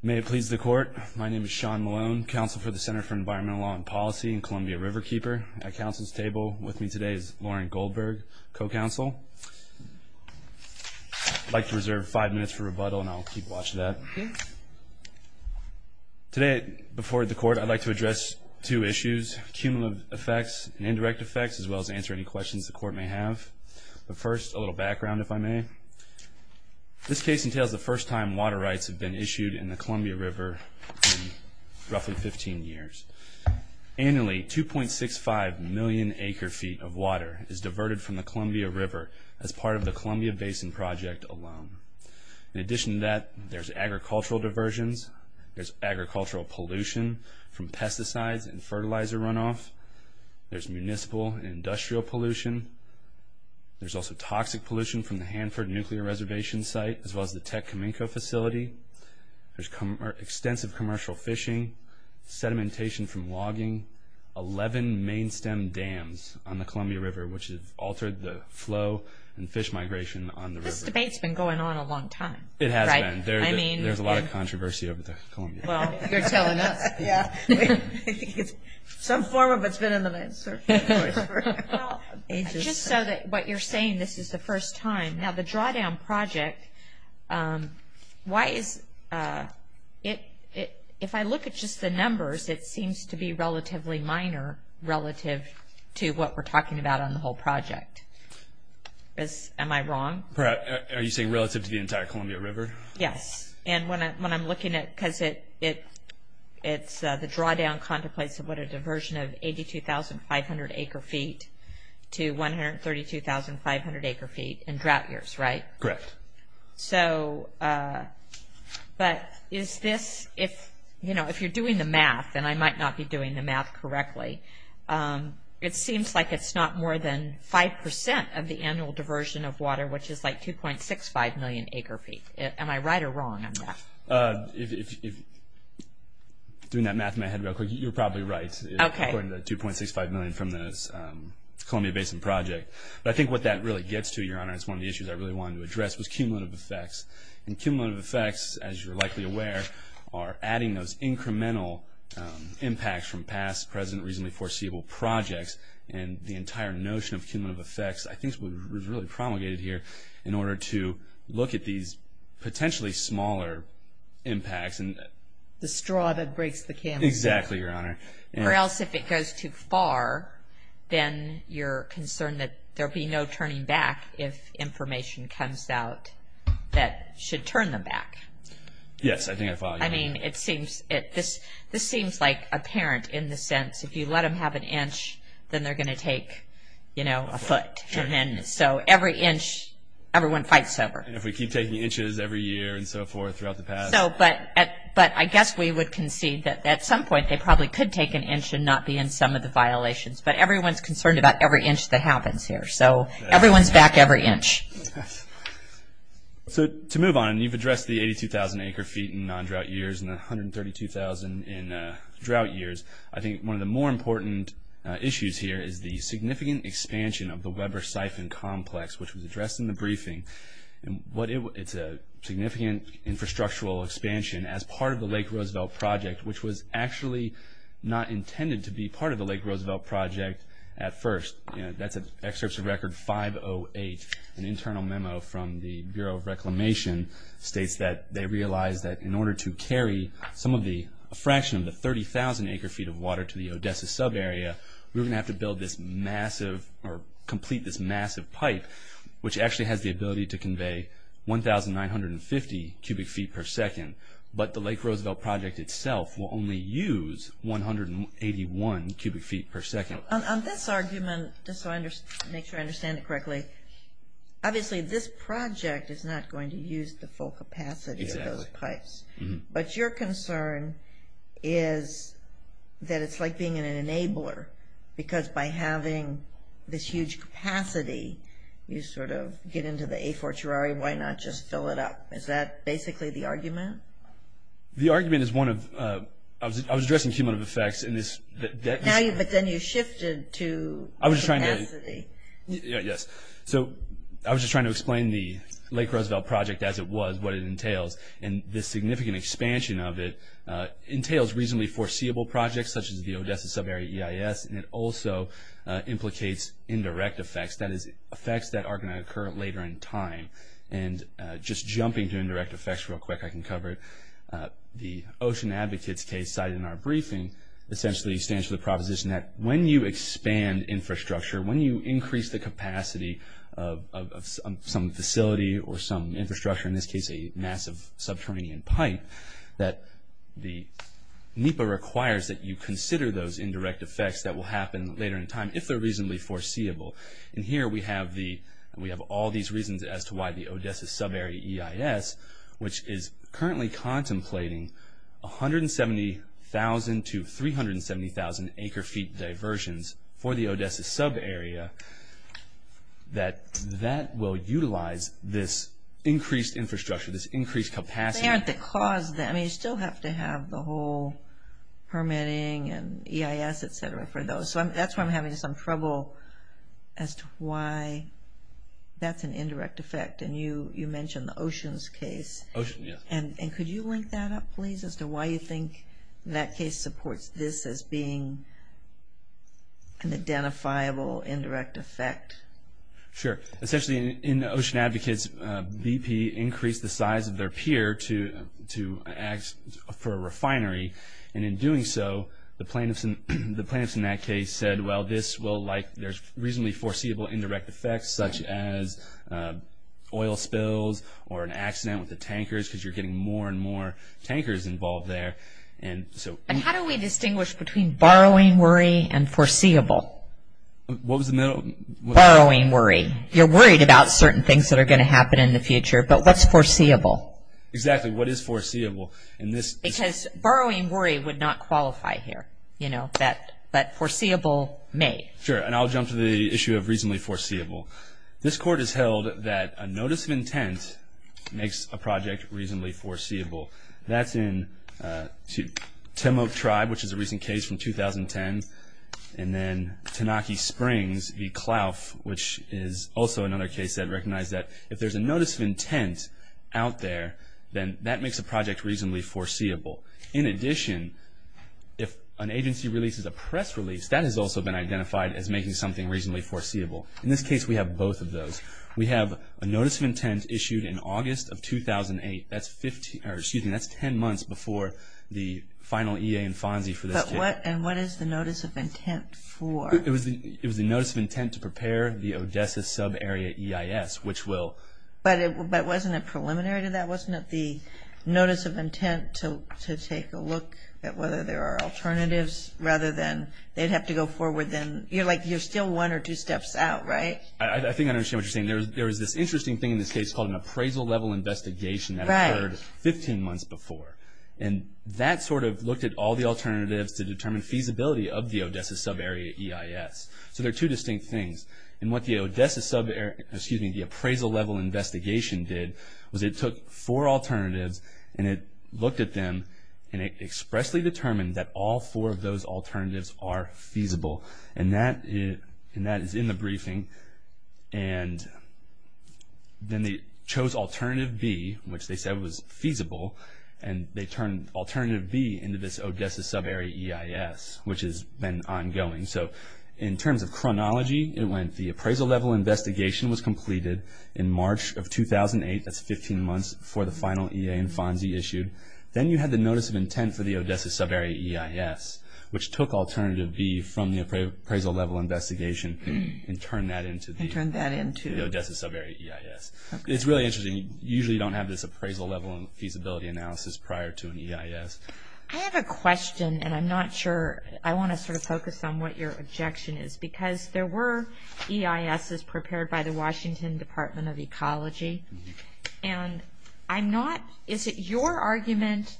May it please the court, my name is Sean Malone, counsel for the Center for Environmental Law and Policy in Columbia Riverkeeper. At counsel's table with me today is Lauren Goldberg, co-counsel. I'd like to reserve five minutes for rebuttal and I'll keep watch of that. Today before the court I'd like to address two issues, cumulative effects and indirect effects, as well as answer any questions the court may have. But first a little background if I may. This case entails the first time water rights have been issued in the Columbia River roughly 15 years. Annually 2.65 million acre-feet of water is diverted from the Columbia River as part of the Columbia Basin Project alone. In addition to that there's agricultural diversions, there's agricultural pollution from pesticides and fertilizer runoff, there's municipal industrial pollution, there's also toxic pollution from the Hanford nuclear reservation site, as well as the Tech Cominco facility, there's extensive commercial fishing, sedimentation from logging, 11 main stem dams on the Columbia River which has altered the flow and fish migration on the river. This debate's been going on a long time. It has been. There's a lot of controversy over the Columbia River. Well you're telling us. Some form of it's been in the news. Just so that what you're saying, this is the first time. Now the drawdown project, why is it, if I look at just the numbers, it seems to be relatively minor relative to what we're talking about on the whole project. Am I wrong? Are you saying relative to the entire Columbia River? Yes. And when I'm looking at, because it's the 22,500 acre feet to 132,500 acre feet in drought years, right? Correct. So but is this, if you know, if you're doing the math, and I might not be doing the math correctly, it seems like it's not more than 5% of the annual diversion of water which is like 2.65 million acre feet. Am I right or wrong on that? If, doing that math in my head real quick, you're probably right. According to 2.65 million from this Columbia Basin project. But I think what that really gets to, your honor, it's one of the issues I really wanted to address, was cumulative effects. And cumulative effects, as you're likely aware, are adding those incremental impacts from past, present, reasonably foreseeable projects. And the entire notion of cumulative effects, I think, was really promulgated here in order to look at these potentially smaller impacts. The straw that breaks the camel's back. Exactly, your honor. Or else, if it goes too far, then you're concerned that there'll be no turning back if information comes out that should turn them back. Yes, I think I follow you. I mean, it seems, this seems like apparent in the sense, if you let them have an inch, then they're gonna take, you know, a foot. And then, so every inch, everyone fights over. And if we keep taking inches every year and so forth throughout the past. So, but, but I guess we would concede that at some point they probably could take an inch and not be in some of the violations. But everyone's concerned about every inch that happens here. So everyone's back every inch. So to move on, and you've addressed the 82,000 acre feet in non-drought years and the 132,000 in drought years. I think one of the more important issues here is the significant expansion of the Weber-Siphon complex, which was addressed in the briefing. And what it, it's a significant infrastructural expansion as part of the Lake Roosevelt project, which was actually not intended to be part of the Lake Roosevelt project at first. You know, that's an excerpts of record 508, an internal memo from the Bureau of Reclamation, states that they realized that in order to carry some of the, a fraction of the 30,000 acre feet of water to the Odessa sub area, we're gonna have to build this massive, or complete this massive pipe, which actually has the ability to convey 1,950 cubic feet per second. But the Lake Roosevelt project itself will only use 181 cubic feet per second. On this argument, just so I understand, make sure I understand it correctly, obviously this project is not going to use the full capacity of those being an enabler, because by having this huge capacity, you sort of get into the a-for-tuary, why not just fill it up? Is that basically the argument? The argument is one of, I was addressing cumulative effects in this... But then you shifted to... I was trying to, yes, so I was just trying to explain the Lake Roosevelt project as it was, what it entails, and this significant expansion of it entails reasonably foreseeable projects, such as the Odessa sub area EIS, and it also implicates indirect effects, that is, effects that are going to occur later in time. And just jumping to indirect effects real quick, I can cover it. The Ocean Advocates case cited in our briefing essentially stands for the proposition that when you expand infrastructure, when you increase the capacity of some facility or some infrastructure, in this case a massive subterranean pipe, that the NEPA requires that you consider those indirect effects that will happen later in time, if they're reasonably foreseeable. And here we have all these reasons as to why the Odessa sub area EIS, which is currently contemplating 170,000 to 370,000 acre-feet diversions for the Odessa sub area, that that will utilize this increased infrastructure, this increased capacity. But they aren't the cause. I mean, you still have to have the whole permitting and EIS, etc., for those. So that's why I'm having some trouble as to why that's an indirect effect. And you mentioned the Oceans case. Ocean, yeah. And could you link that up, please, as to why you think that case supports this as being an identifiable indirect effect? Sure. Essentially, in the Ocean Advocates, BP increased the size of their pier for a refinery. And in doing so, the plaintiffs in that case said, well, there's reasonably foreseeable indirect effects, such as oil spills or an accident with the tankers, because you're getting more and more tankers involved there. And how do we distinguish between borrowing worry and foreseeable? What was the middle? Borrowing worry. You're worried about certain things that are going to happen in the future, but what's foreseeable? Exactly. What is foreseeable? Because borrowing worry would not qualify here, you know, but foreseeable may. Sure. And I'll jump to the issue of reasonably foreseeable. This court has held that a notice of intent makes a project reasonably foreseeable. That's in Timok Tribe, which is a recent case from 2010, and then Tanaki Springs v. Clough, which is also another case that recognized that if there's a notice of intent out there, then that makes a project reasonably foreseeable. In addition, if an agency releases a press release, that has also been identified as making something reasonably foreseeable. In this case, we have both of those. We have a notice of intent issued in August of 2008. That's 10 months before the final EA and FONSI for this case. And what is the notice of intent for? It was the notice of intent to prepare the Odessa sub-area EIS, which will... But wasn't it preliminary to that? Wasn't it the notice of intent to take a look at whether there are alternatives, rather than they'd have to go forward then? You're like, you're still one or two steps out, right? I think I understand what you're saying. There was this interesting thing in this case called an appraisal level investigation that occurred 15 months before, and that sort So there are two distinct things. And what the Odessa sub-area, excuse me, the appraisal level investigation did, was it took four alternatives, and it looked at them, and it expressly determined that all four of those alternatives are feasible. And that is in the briefing. And then they chose alternative B, which they said was feasible, and they turned alternative B into this Odessa sub-area EIS, which has been ongoing. So in terms of chronology, it went the appraisal level investigation was completed in March of 2008. That's 15 months before the final EA and FONSI issued. Then you had the notice of intent for the Odessa sub-area EIS, which took alternative B from the appraisal level investigation and turned that into the Odessa sub-area EIS. It's really interesting. You usually don't have this appraisal level and to an EIS. I have a question, and I'm not sure. I want to sort of focus on what your objection is, because there were EISs prepared by the Washington Department of Ecology. And I'm not, is it your argument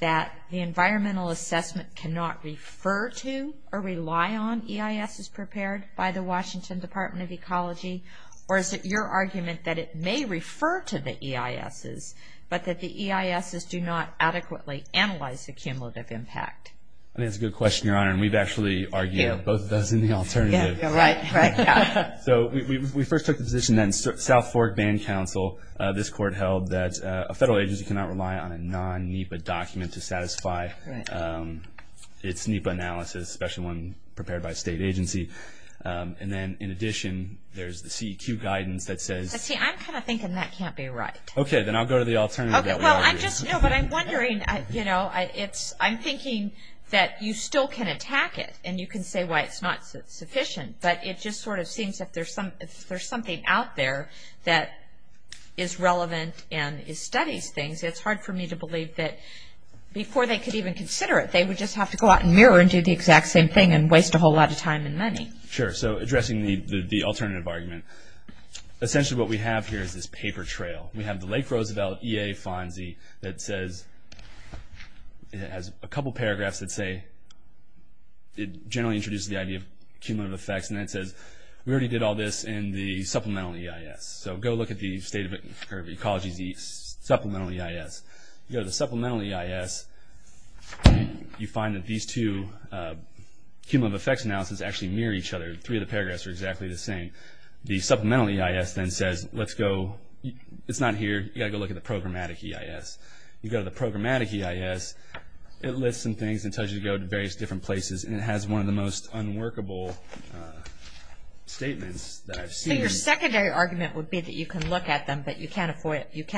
that the environmental assessment cannot refer to or rely on EISs prepared by the Washington Department of Ecology? Or is it your argument that it may refer to the EISs, but that the EISs do not adequately analyze the cumulative impact? I think that's a good question, Your Honor. And we've actually argued both of those in the alternative. Yeah, right. So we first took the position that in South Fork Band Council, this court held that a federal agency cannot rely on a non-NEPA document to satisfy its NEPA analysis, especially one prepared by a state agency. And then in addition, there's the CEQ guidance that says... See, I'm kind of thinking that can't be right. Okay, then I'll go to the alternative that we argued. No, but I'm wondering, you know, I'm thinking that you still can attack it, and you can say why it's not sufficient. But it just sort of seems if there's something out there that is relevant and studies things, it's hard for me to believe that before they could even consider it, they would just have to go out and mirror and do the exact same thing and waste a whole lot of time and money. Sure. So addressing the alternative argument, essentially what we have here is this paper trail. We have the Lake Roosevelt EA Fonzie that says...it has a couple paragraphs that say...it generally introduces the idea of cumulative effects, and then it says, we already did all this in the supplemental EIS. So go look at the state of ecology's supplemental EIS. Go to the supplemental EIS, you find that these two cumulative effects analysis actually mirror each other. Three of the paragraphs are exactly the same. The supplemental EIS then says, let's go...it's not here. You gotta go look at the programmatic EIS. You go to the programmatic EIS, it lists some things and tells you to go to various different places, and it has one of the most unworkable statements that I've seen. So your secondary argument would be that you can look at them, but you can't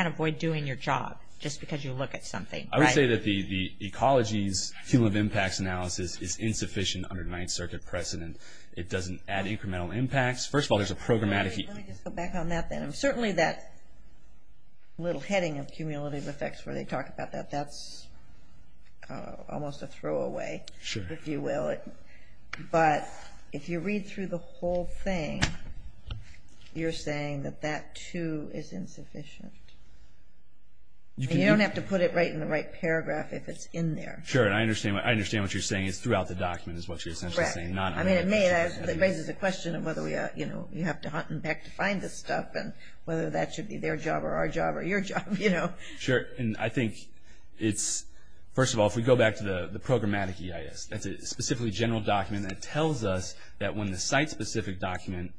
avoid doing your job just because you look at something. I would say that the ecology's cumulative impacts analysis is insufficient under Ninth Circuit precedent. It doesn't add incremental impacts. First of all, there's a programmatic... Let me just go back on that then. Certainly that little heading of cumulative effects where they talk about that, that's almost a throwaway, if you will. But if you read through the whole thing, you're saying that that too is insufficient. You don't have to put it right in the right paragraph if it's in there. Sure. And I understand what you're saying. You're saying it's throughout the document is what you're essentially saying, not... Correct. I mean, it raises the question of whether you have to hunt and peck to find this stuff, and whether that should be their job or our job or your job. Sure. And I think it's... First of all, if we go back to the programmatic EIS, that's a specifically general document that tells us that when the site-specific document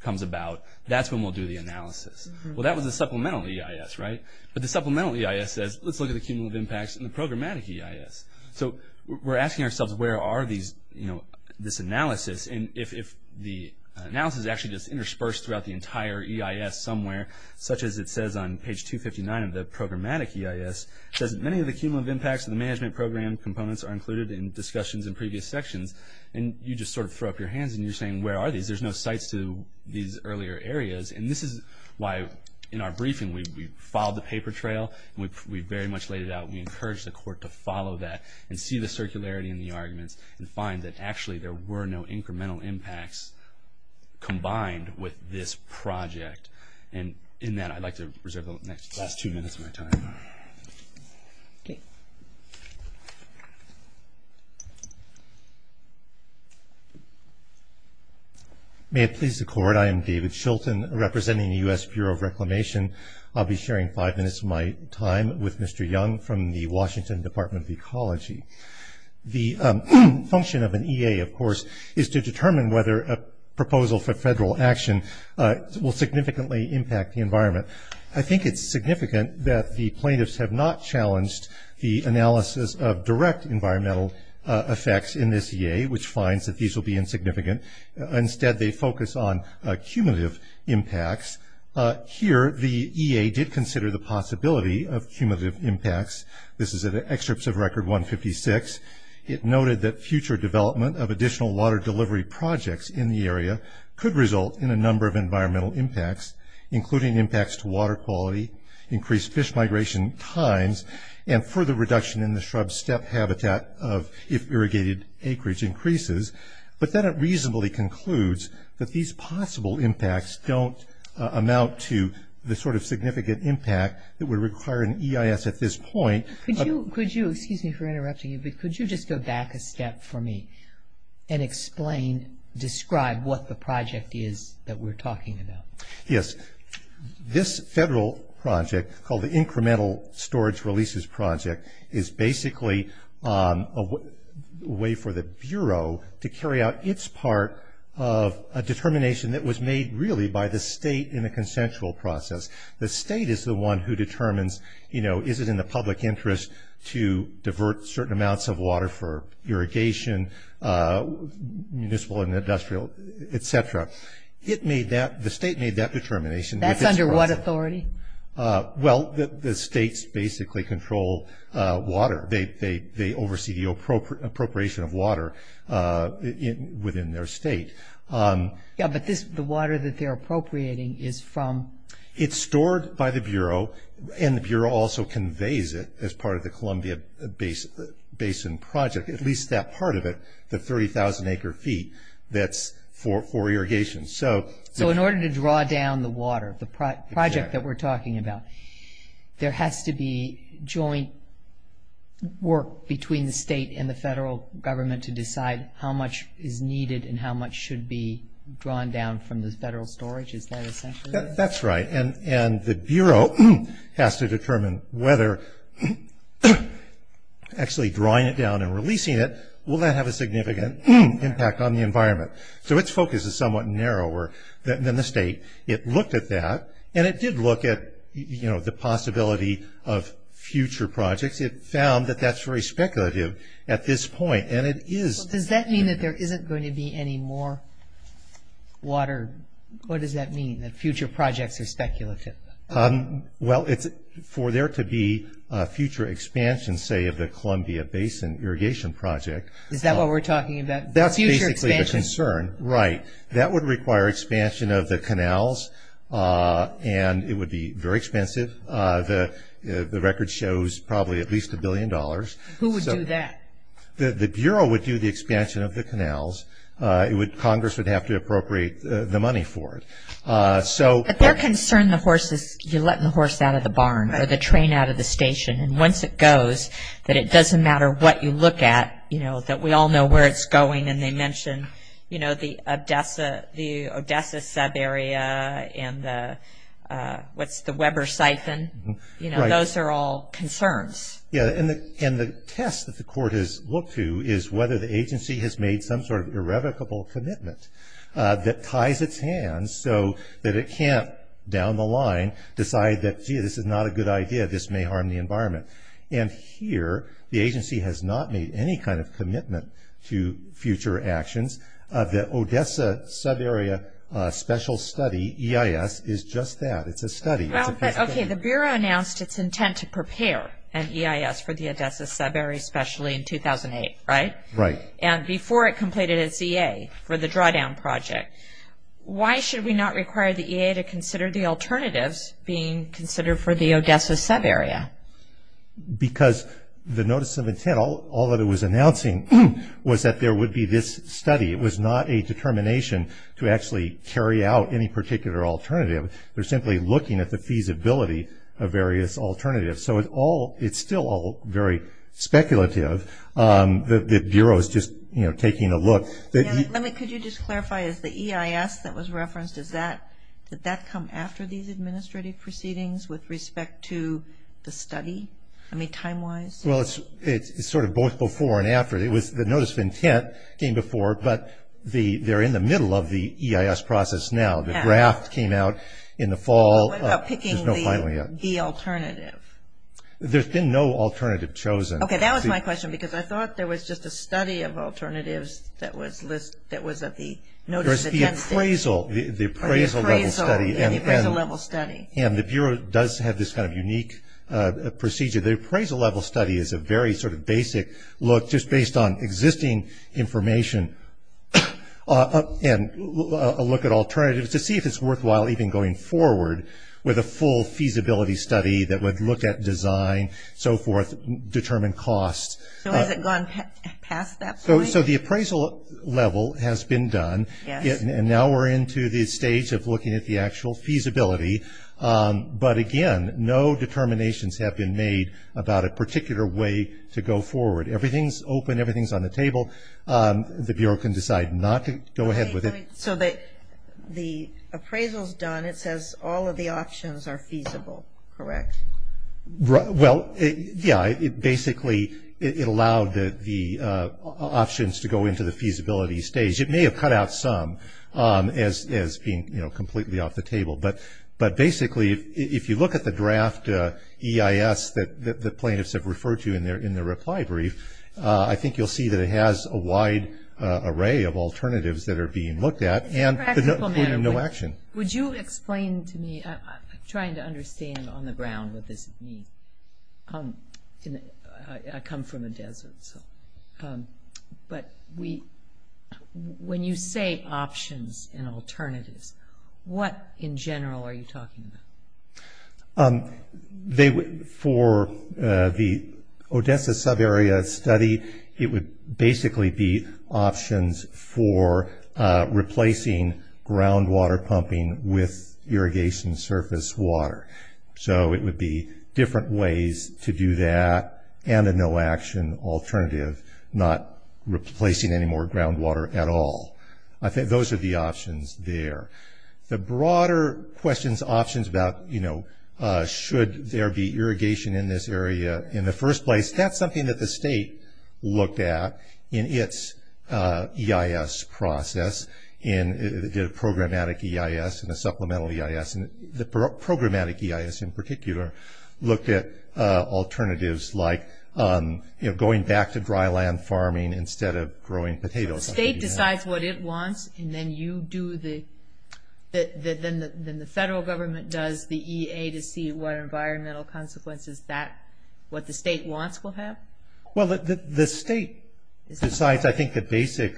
comes about, that's when we'll do the analysis. Well, that was a supplemental EIS, right? But the supplemental EIS says, let's look at the cumulative impacts in the programmatic EIS. So we're asking ourselves, where are these, you know, this analysis? And if the analysis is actually just interspersed throughout the entire EIS somewhere, such as it says on page 259 of the programmatic EIS, it says many of the cumulative impacts of the management program components are included in discussions in previous sections. And you just sort of throw up your hands and you're saying, where are these? There's no sites to these earlier areas. And this is why, in our briefing, we followed the paper trail. We very much laid it out. We encouraged the court to follow that and see the circularity in the arguments and find that actually there were no incremental impacts combined with this project. And in that, I'd like to reserve the last two minutes of my time. Okay. May it please the court, I am David Shilton, representing the U.S. Bureau of Reclamation. I'll be sharing five minutes of my time with Mr. Young from the Washington Department of Ecology. The function of an EA, of course, is to determine whether a proposal for federal action will significantly impact the environment. I think it's significant that the plaintiffs have not challenged the analysis of direct environmental effects in this EA, which finds that these will be insignificant. Instead, they focus on cumulative impacts. Here, the EA did consider the possibility of cumulative impacts. This is an excerpt of Record 156. It noted that future development of additional water delivery projects in the area could result in a number of environmental impacts, including impacts to water quality, increased fish migration times, and further reduction in the shrub steppe habitat of if irrigated acreage increases. But then it reasonably concludes that these possible impacts don't amount to the sort of significant impact that would require an EIS at this point. Could you, excuse me for interrupting you, but could you just go back a step for me and explain, describe what the project is that we're talking about? Yes. This federal project, called the Incremental Storage Releases Project, is basically a way for the Bureau to carry out its part of a determination that was made, really, by the state in a consensual process. The state is the one who determines, you know, is it in the public interest to divert certain amounts of water for irrigation, municipal and industrial, et cetera. It made that, the state made that determination. That's under what authority? Well, the states basically control water. They oversee the appropriation of water within their state. Yeah, but this, the water that they're appropriating is from? It's stored by the Bureau, and the Bureau also conveys it as part of the Columbia Basin Project, at least that part of it, the 30,000 acre feet that's for irrigation. So in order to draw down the water, the project that we're talking about, there has to be joint work between the state and the federal government to decide how much is needed and how much should be drawn down from the federal storage? Is that essential? That's right, and the Bureau has to determine whether actually drawing it down and releasing it will not have a significant impact on the environment. So its focus is somewhat narrower than the state. It looked at that, and it did look at, you know, the possibility of future projects. It found that that's very speculative at this point, and it is. Well, does that mean that there isn't going to be any more water? What does that mean, that future projects are speculative? Well, it's for there to be a future expansion, say, of the Columbia Basin Irrigation Project. Is that what we're talking about? That's basically the concern, right. That would require expansion of the canals, and it would be very expensive. The record shows probably at least a billion dollars. Who would do that? The Bureau would do the expansion of the canals. Congress would have to appropriate the money for it. But they're concerned the horses, you're letting the horse out of the barn, or the train out of the station, and once it goes, that it doesn't matter what you look at, you know, that we all know where it's going. And they mention, you know, the Odessa, the Odessa sub area, and the, what's the Weber siphon? You know, those are all concerns. Yeah, and the test that the court has looked to is whether the agency has made some sort of irrevocable commitment that ties its hands so that it can't, down the line, decide that, gee, this is not a good idea, this may harm the environment. And here, the agency has not made any kind of commitment to future actions. The Odessa sub area special study, EIS, is just that. It's a study. Okay, the Bureau announced its intent to prepare an EIS for the Odessa sub area specially in 2008, right? Right. And before it completed its EA for the drawdown project. Why should we not require the EA to consider the alternatives being considered for the Odessa sub area? Because the notice of intent, all that it was announcing was that there would be this study. It was not a determination to actually carry out any particular alternative. They're simply looking at the feasibility of various alternatives. So it's all, it's still all very speculative. The Bureau is just, you know, taking a look. Let me, could you just clarify, is the EIS that was referenced, is that, did that come after these administrative proceedings with respect to the study? I mean, time-wise? Well, it's sort of both before and after. It was the notice of intent came before, but the, they're in the middle of the EIS process now. The draft came out in the fall. What about picking the alternative? There's been no alternative chosen. Okay, that was my question, because I thought there was just a study of alternatives that was listed, that was at the notice of intent stage. The appraisal, the appraisal level study, and the Bureau does have this kind of unique procedure. The appraisal level study is a very sort of basic look, just based on existing information, and a look at alternatives to see if it's worthwhile even going forward with a full feasibility study that would look at design, so forth, determine costs. So has it gone past that point? So the appraisal level has been done. And now we're into the stage of looking at the actual feasibility. But again, no determinations have been made about a particular way to go forward. Everything's open. Everything's on the table. The Bureau can decide not to go ahead with it. So the appraisal's done. It says all of the options are feasible, correct? Well, yeah, it basically, it allowed the options to go into the feasibility stage. It may have cut out some as being, you know, completely off the table. But basically, if you look at the draft EIS that the plaintiffs have referred to in their reply brief, I think you'll see that it has a wide array of alternatives that are being looked at, and no action. Would you explain to me, I'm trying to understand on the ground what this means. I come from the desert, so. But we, when you say options and alternatives, what in general are you talking about? For the Odessa subarea study, it would basically be options for replacing groundwater pumping with irrigation surface water. So it would be different ways to do that, and a no action alternative, not replacing any more groundwater at all. I think those are the options there. The broader questions, options about, you know, should there be irrigation in this area in the first place, that's something that the state looked at in its EIS process, in the programmatic EIS and the supplemental EIS, and the programmatic EIS in particular, looked at alternatives like, you know, going back to dry land farming instead of growing potatoes. So the state decides what it wants, and then you do the, then the federal government does the EA to see what environmental consequences that, what the state wants will have? Well, the state decides, I think, the basic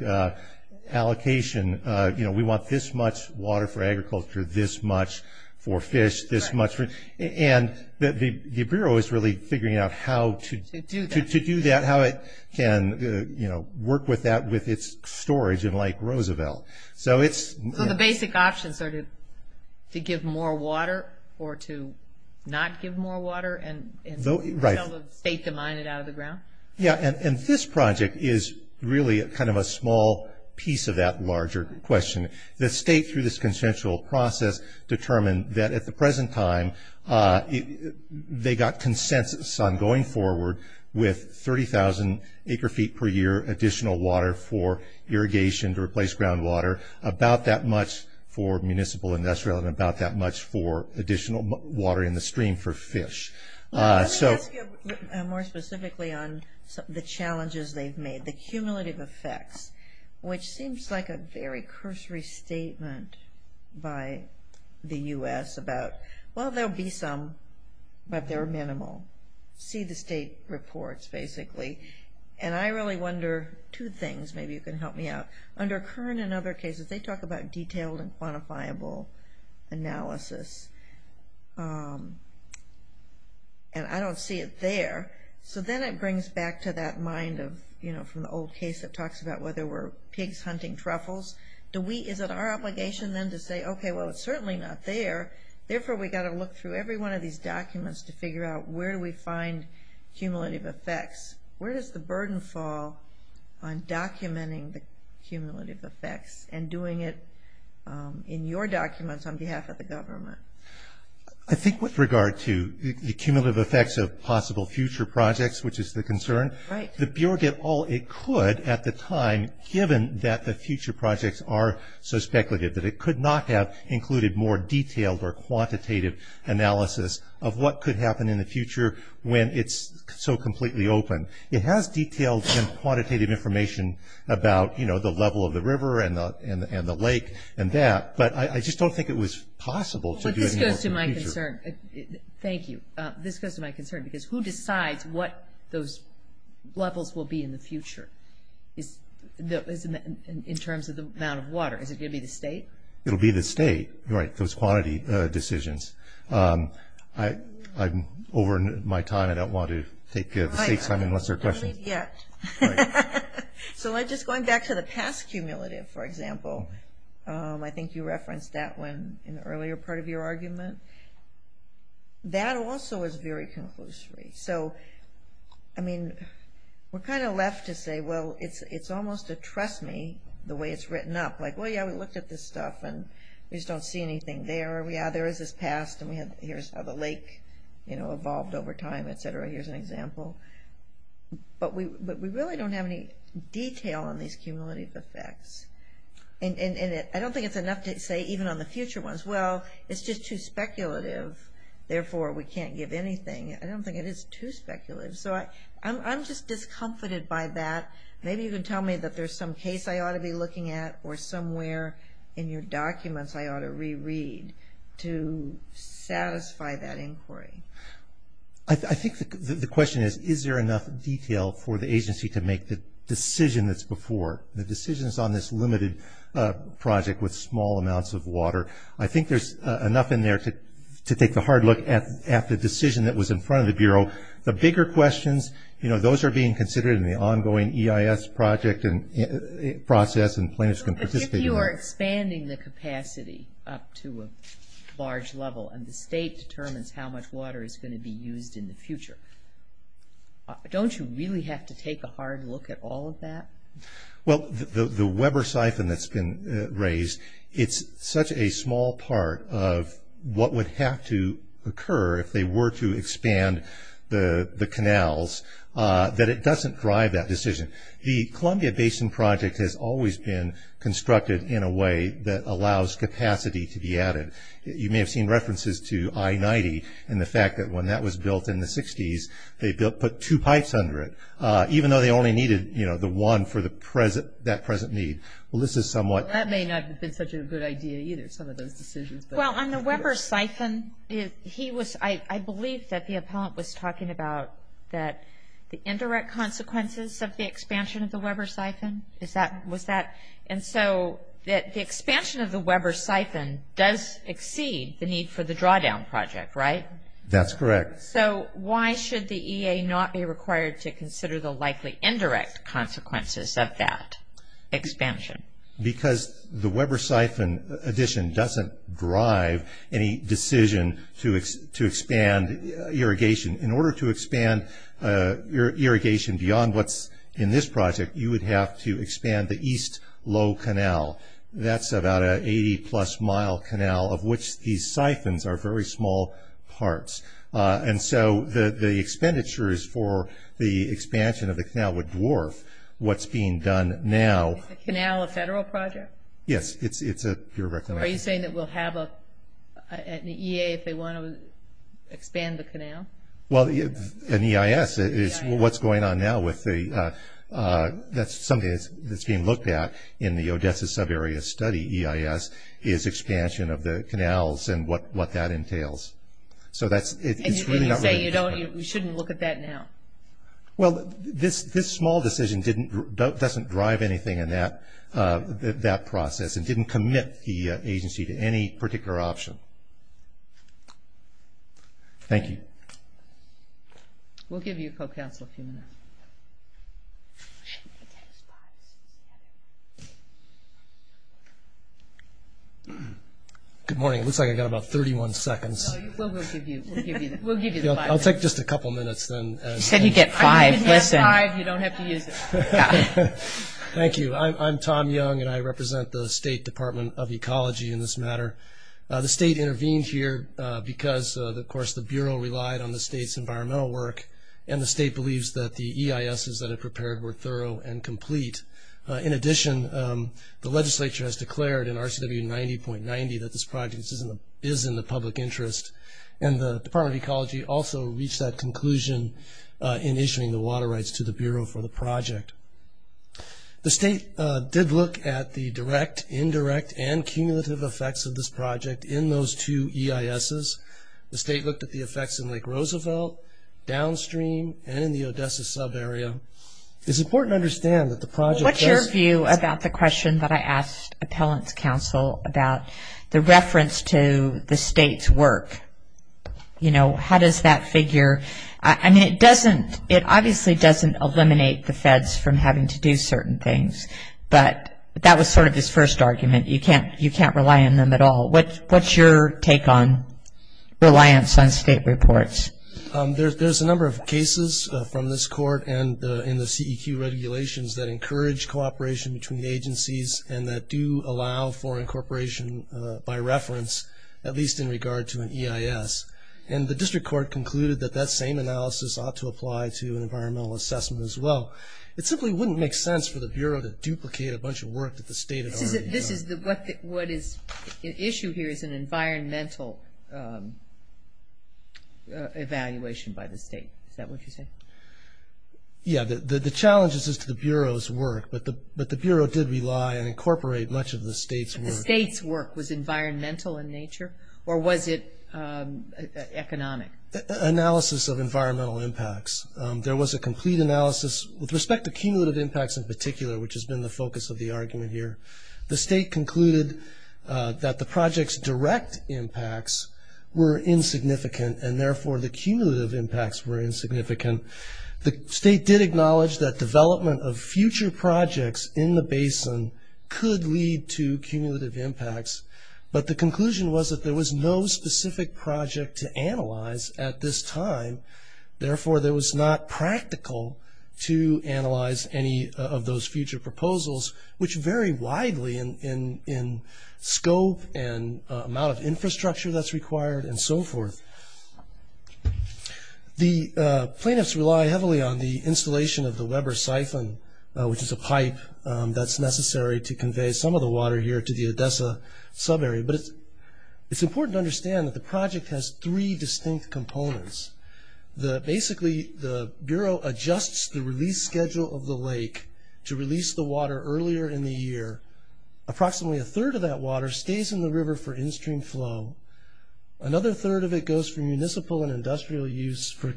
allocation, you know, we want this much water for agriculture, this much for fish, this much for, and the bureau is really figuring out how to do that, how it can, you know, work with that with its storage in Lake Roosevelt. So it's. So the basic options are to give more water, or to not give more water, and have the state to mine it out of the ground? Yeah, and this project is really kind of a small piece of that larger question. The state, through this consensual process, determined that at the present time they got consensus on going forward with 30,000 acre feet per year additional water for irrigation to replace groundwater, about that much for municipal industrial, and about that much for additional water in the stream for fish. So. Let me ask you more specifically on the challenges they've made, the cumulative effects, which seems like a very cursory statement by the U.S. about, well, there'll be some, but they're minimal, see the state reports, basically. And I really wonder, two things, maybe you can help me out. Under Kern and other cases, they talk about detailed and quantifiable analysis. And I don't see it there. So then it brings back to that mind of, you know, from the old case that talks about whether we're pigs hunting truffles. Do we, is it our obligation then to say, okay, well, it's certainly not there. Therefore, we got to look through every one of these documents to figure out where do we find cumulative effects? Where does the burden fall on documenting the cumulative effects and doing it in your documents on behalf of the government? I think with regard to the cumulative effects of possible future projects, which is the concern. Right. The Bureau did all it could at the time, given that the future projects are so speculative that it could not have included more detailed or quantitative analysis of what could happen in the future when it's so completely open. It has detailed and quantitative information about, you know, the level of the river and the lake and that. But I just don't think it was possible to do it in the future. But this goes to my concern. Thank you. This goes to my concern, because who decides what those levels will be in the future? Is, in terms of the amount of water, is it going to be the state? It'll be the state, right, those quantity decisions. Over my time, I don't want to take the state's time unless there are questions. Right, not yet. So just going back to the past cumulative, for example, I think you referenced that one in the earlier part of your argument. That also is very conclusory. So, I mean, we're kind of left to say, well, it's almost a trust me, the way it's written up. Like, well, yeah, we looked at this stuff, and we just don't see anything there. Yeah, there is this past, and here's how the lake, you know, evolved over time, et cetera. Here's an example. But we really don't have any detail on these cumulative effects. And I don't think it's enough to say, even on the future ones, well, it's just too speculative. Therefore, we can't give anything. I don't think it is too speculative. So I'm just discomfited by that. Maybe you can tell me that there's some case I ought to be looking at, or somewhere in your documents I ought to reread to satisfy that inquiry. I think the question is, is there enough detail for the agency to make the decision that's before? The decisions on this limited project with small amounts of water. I think there's enough in there to take the hard look at the decision that was in front of the Bureau. The bigger questions, you know, those are being considered in the ongoing EIS project process, and plaintiffs can participate in that. If you are expanding the capacity up to a large level, and the state determines how much water is going to be used in the future, don't you really have to take a hard look at all of that? Well, the Weber siphon that's been raised, it's such a small part of what would have to occur if they were to expand the canals, that it doesn't drive that decision. The Columbia Basin project has always been constructed in a way that allows capacity to be added. You may have seen references to I-90, and the fact that when that was built in the 60s, they put two pipes under it, even though they only needed, you know, the one for that present need. Well, this is somewhat. That may not have been such a good idea either, some of those decisions. Well, on the Weber siphon, he was, I believe that the appellant was talking about that the indirect consequences of the expansion of the Weber siphon. Is that, was that, and so that the expansion of the Weber siphon does exceed the need for the drawdown project, right? That's correct. So why should the EA not be required to consider the likely indirect consequences of that expansion? Because the Weber siphon addition doesn't drive any decision to expand irrigation. In order to expand irrigation beyond what's in this project, you would have to expand the east low canal. That's about an 80 plus mile canal of which these siphons are very small parts. And so the expenditures for the expansion of the canal would dwarf what's being done now. Is the canal a federal project? Yes, it's a, you're right. Are you saying that we'll have an EA if they want to expand the canal? Well, an EIS is what's going on now with the, that's something that's being looked at in the Odessa Sub-Area Study EIS is expansion of the canals and what that entails. So that's, it's really not really. And you say you don't, you shouldn't look at that now? Well, this small decision didn't, doesn't drive anything in that process. It didn't commit the agency to any particular option. Thank you. We'll give you a co-counsel a few minutes. Good morning. It looks like I've got about 31 seconds. No, we'll give you, we'll give you, we'll give you the five minutes. I'll take just a couple minutes then. You said you'd get five. Listen. You don't have to use it. And I'm the co-counsel. And I'm the co-counsel. And I'm the co-counsel. And I am the co-counsel of the State Department of Ecology in this matter. The state intervened here because of course the Bureau relied on the state's environmental work and the state believes that the EISs that are prepared were thorough and complete. In addition the legislature has declared in RCW 90.90 that this project is in the public interest and the Department of Ecology also reached that conclusion in issuing the water rights to the Bureau for the project. The state did look at the direct, indirect, and cumulative effects of this project in those two EISs. The state looked at the effects in Lake Roosevelt, downstream, and in the Odessa sub-area. It's important to understand that the project does... What's your view about the question that I asked Appellant's counsel about the reference to the state's work? You know, how does that figure? I mean, it doesn't... It obviously doesn't eliminate the feds from having to do certain things, but that was sort of his first argument. You can't rely on them at all. What's your take on reliance on state reports? There's a number of cases from this court and the CEQ regulations that encourage cooperation between the agencies and that do allow for incorporation by reference, at least in regard to an EIS. And the district court concluded that that same analysis ought to apply to an environmental assessment as well. It simply wouldn't make sense for the Bureau to duplicate a bunch of work that the state had already done. This is... What is at issue here is an environmental evaluation by the state. Is that what you're saying? Yeah. The challenge is just to the Bureau's work, but the Bureau did rely and incorporate much of the state's work. The state's work was environmental in nature, or was it economic? Analysis of environmental impacts. There was a complete analysis with respect to cumulative impacts in particular, which has been the focus of the argument here. The state concluded that the project's direct impacts were insignificant, and therefore the cumulative impacts were insignificant. The state did acknowledge that development of future projects in the basin could lead to cumulative impacts, but the conclusion was that there was no specific project to analyze at this time. Therefore there was not practical to analyze any of those future proposals, which vary widely in scope and amount of infrastructure that's required and so forth. The plaintiffs rely heavily on the installation of the Weber siphon, which is a pipe that's used to pump the water here to the Odessa sub-area, but it's important to understand that the project has three distinct components. Basically the Bureau adjusts the release schedule of the lake to release the water earlier in the year. Approximately a third of that water stays in the river for in-stream flow. Another third of it goes for municipal and industrial use for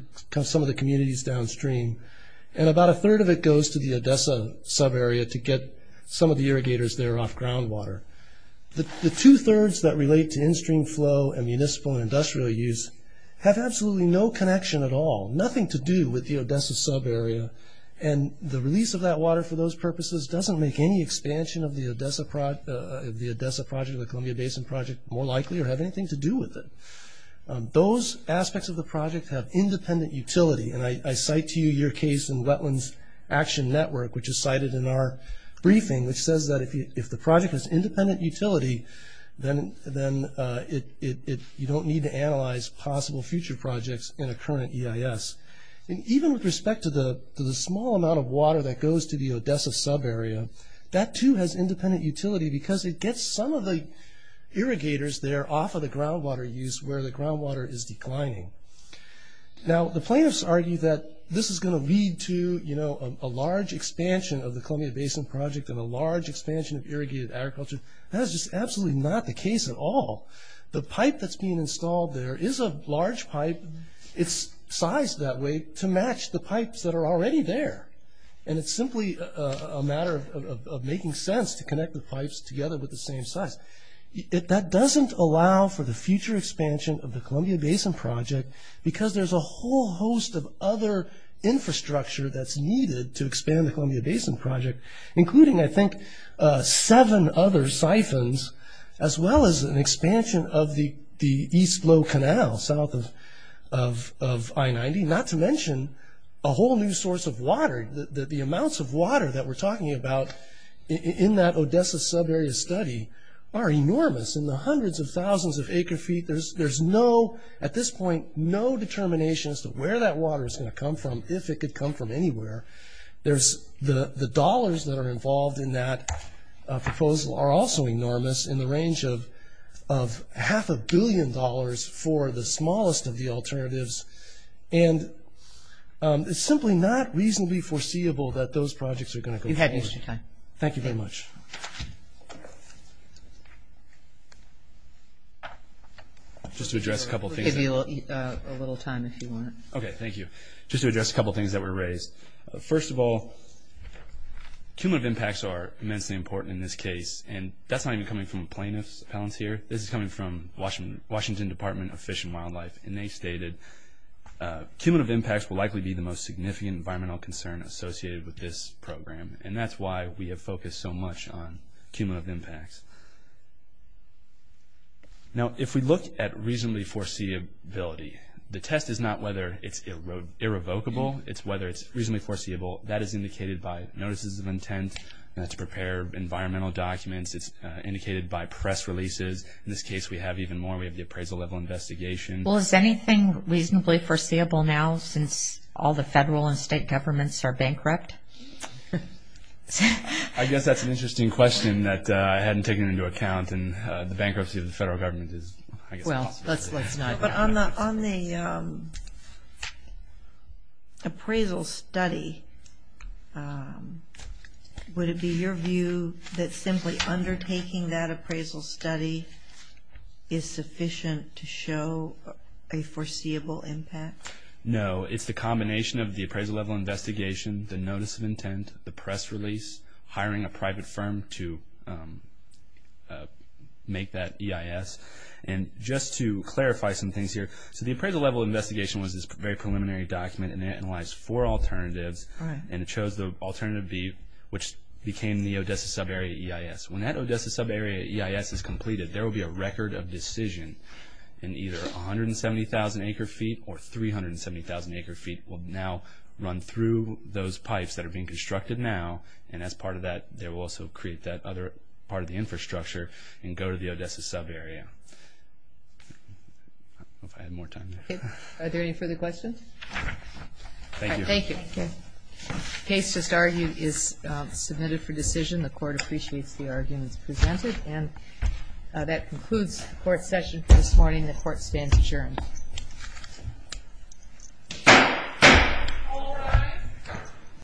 some of the communities downstream, and about a third of it goes to the Odessa sub-area to get some of the irrigators there off groundwater. The two-thirds that relate to in-stream flow and municipal and industrial use have absolutely no connection at all, nothing to do with the Odessa sub-area, and the release of that water for those purposes doesn't make any expansion of the Odessa project or the Columbia Basin project more likely or have anything to do with it. Those aspects of the project have independent utility, and I cite to you your case in Wetlands Action Network, which is cited in our briefing, which says that if the project has independent utility, then you don't need to analyze possible future projects in a current EIS. Even with respect to the small amount of water that goes to the Odessa sub-area, that too has independent utility because it gets some of the irrigators there off of the groundwater use where the groundwater is declining. Now, the plaintiffs argue that this is going to lead to a large expansion of the Columbia Basin project and a large expansion of irrigated agriculture. That is just absolutely not the case at all. The pipe that's being installed there is a large pipe. It's sized that way to match the pipes that are already there, and it's simply a matter of making sense to connect the pipes together with the same size. That doesn't allow for the future expansion of the Columbia Basin project because there's a whole host of other infrastructure that's needed to expand the Columbia Basin project, including I think seven other siphons, as well as an expansion of the East Low Canal south of I-90, not to mention a whole new source of water. The amounts of water that we're talking about in that Odessa sub-area study are enormous. In the hundreds of thousands of acre-feet, there's no, at this point, no determination as to where that water is going to come from, if it could come from anywhere. The dollars that are involved in that proposal are also enormous in the range of half a billion dollars for the smallest of the alternatives, and it's simply not reasonably foreseeable that those projects are going to go forward. You've had your time. Thank you very much. Just to address a couple things. We'll give you a little time if you want. Okay. Thank you. Just to address a couple things that were raised. First of all, cumulative impacts are immensely important in this case, and that's not even coming from plaintiffs, appellants here. This is coming from Washington Department of Fish and Wildlife, and they stated, cumulative impacts will likely be the most significant environmental concern associated with this program, and that's why we have focused so much on cumulative impacts. Now if we look at reasonably foreseeability, the test is not whether it's irrevocable. It's whether it's reasonably foreseeable. That is indicated by notices of intent, not to prepare environmental documents. It's indicated by press releases. In this case, we have even more. We have the appraisal level investigation. Well, is anything reasonably foreseeable now since all the federal and state governments are bankrupt? I guess that's an interesting question that I hadn't taken into account, and the bankruptcy of the federal government is, I guess, a possibility. But on the appraisal study, would it be your view that simply undertaking that appraisal study is sufficient to show a foreseeable impact? No, it's the combination of the appraisal level investigation, the notice of intent, the press release, hiring a private firm to make that EIS, and just to clarify some things here, so the appraisal level investigation was this very preliminary document, and it analyzed four alternatives, and it chose the alternative B, which became the Odessa sub area EIS. When that Odessa sub area EIS is completed, there will be a record of decision, and either 170,000 acre feet or 370,000 acre feet will now run through those pipes that are being constructed now, and as part of that, they will also create that other part of the infrastructure and go to the Odessa sub area. I don't know if I had more time. Are there any further questions? Thank you. The case just argued is submitted for decision. The court appreciates the arguments presented, and that concludes the court session for this morning. The court stands adjourned. All rise.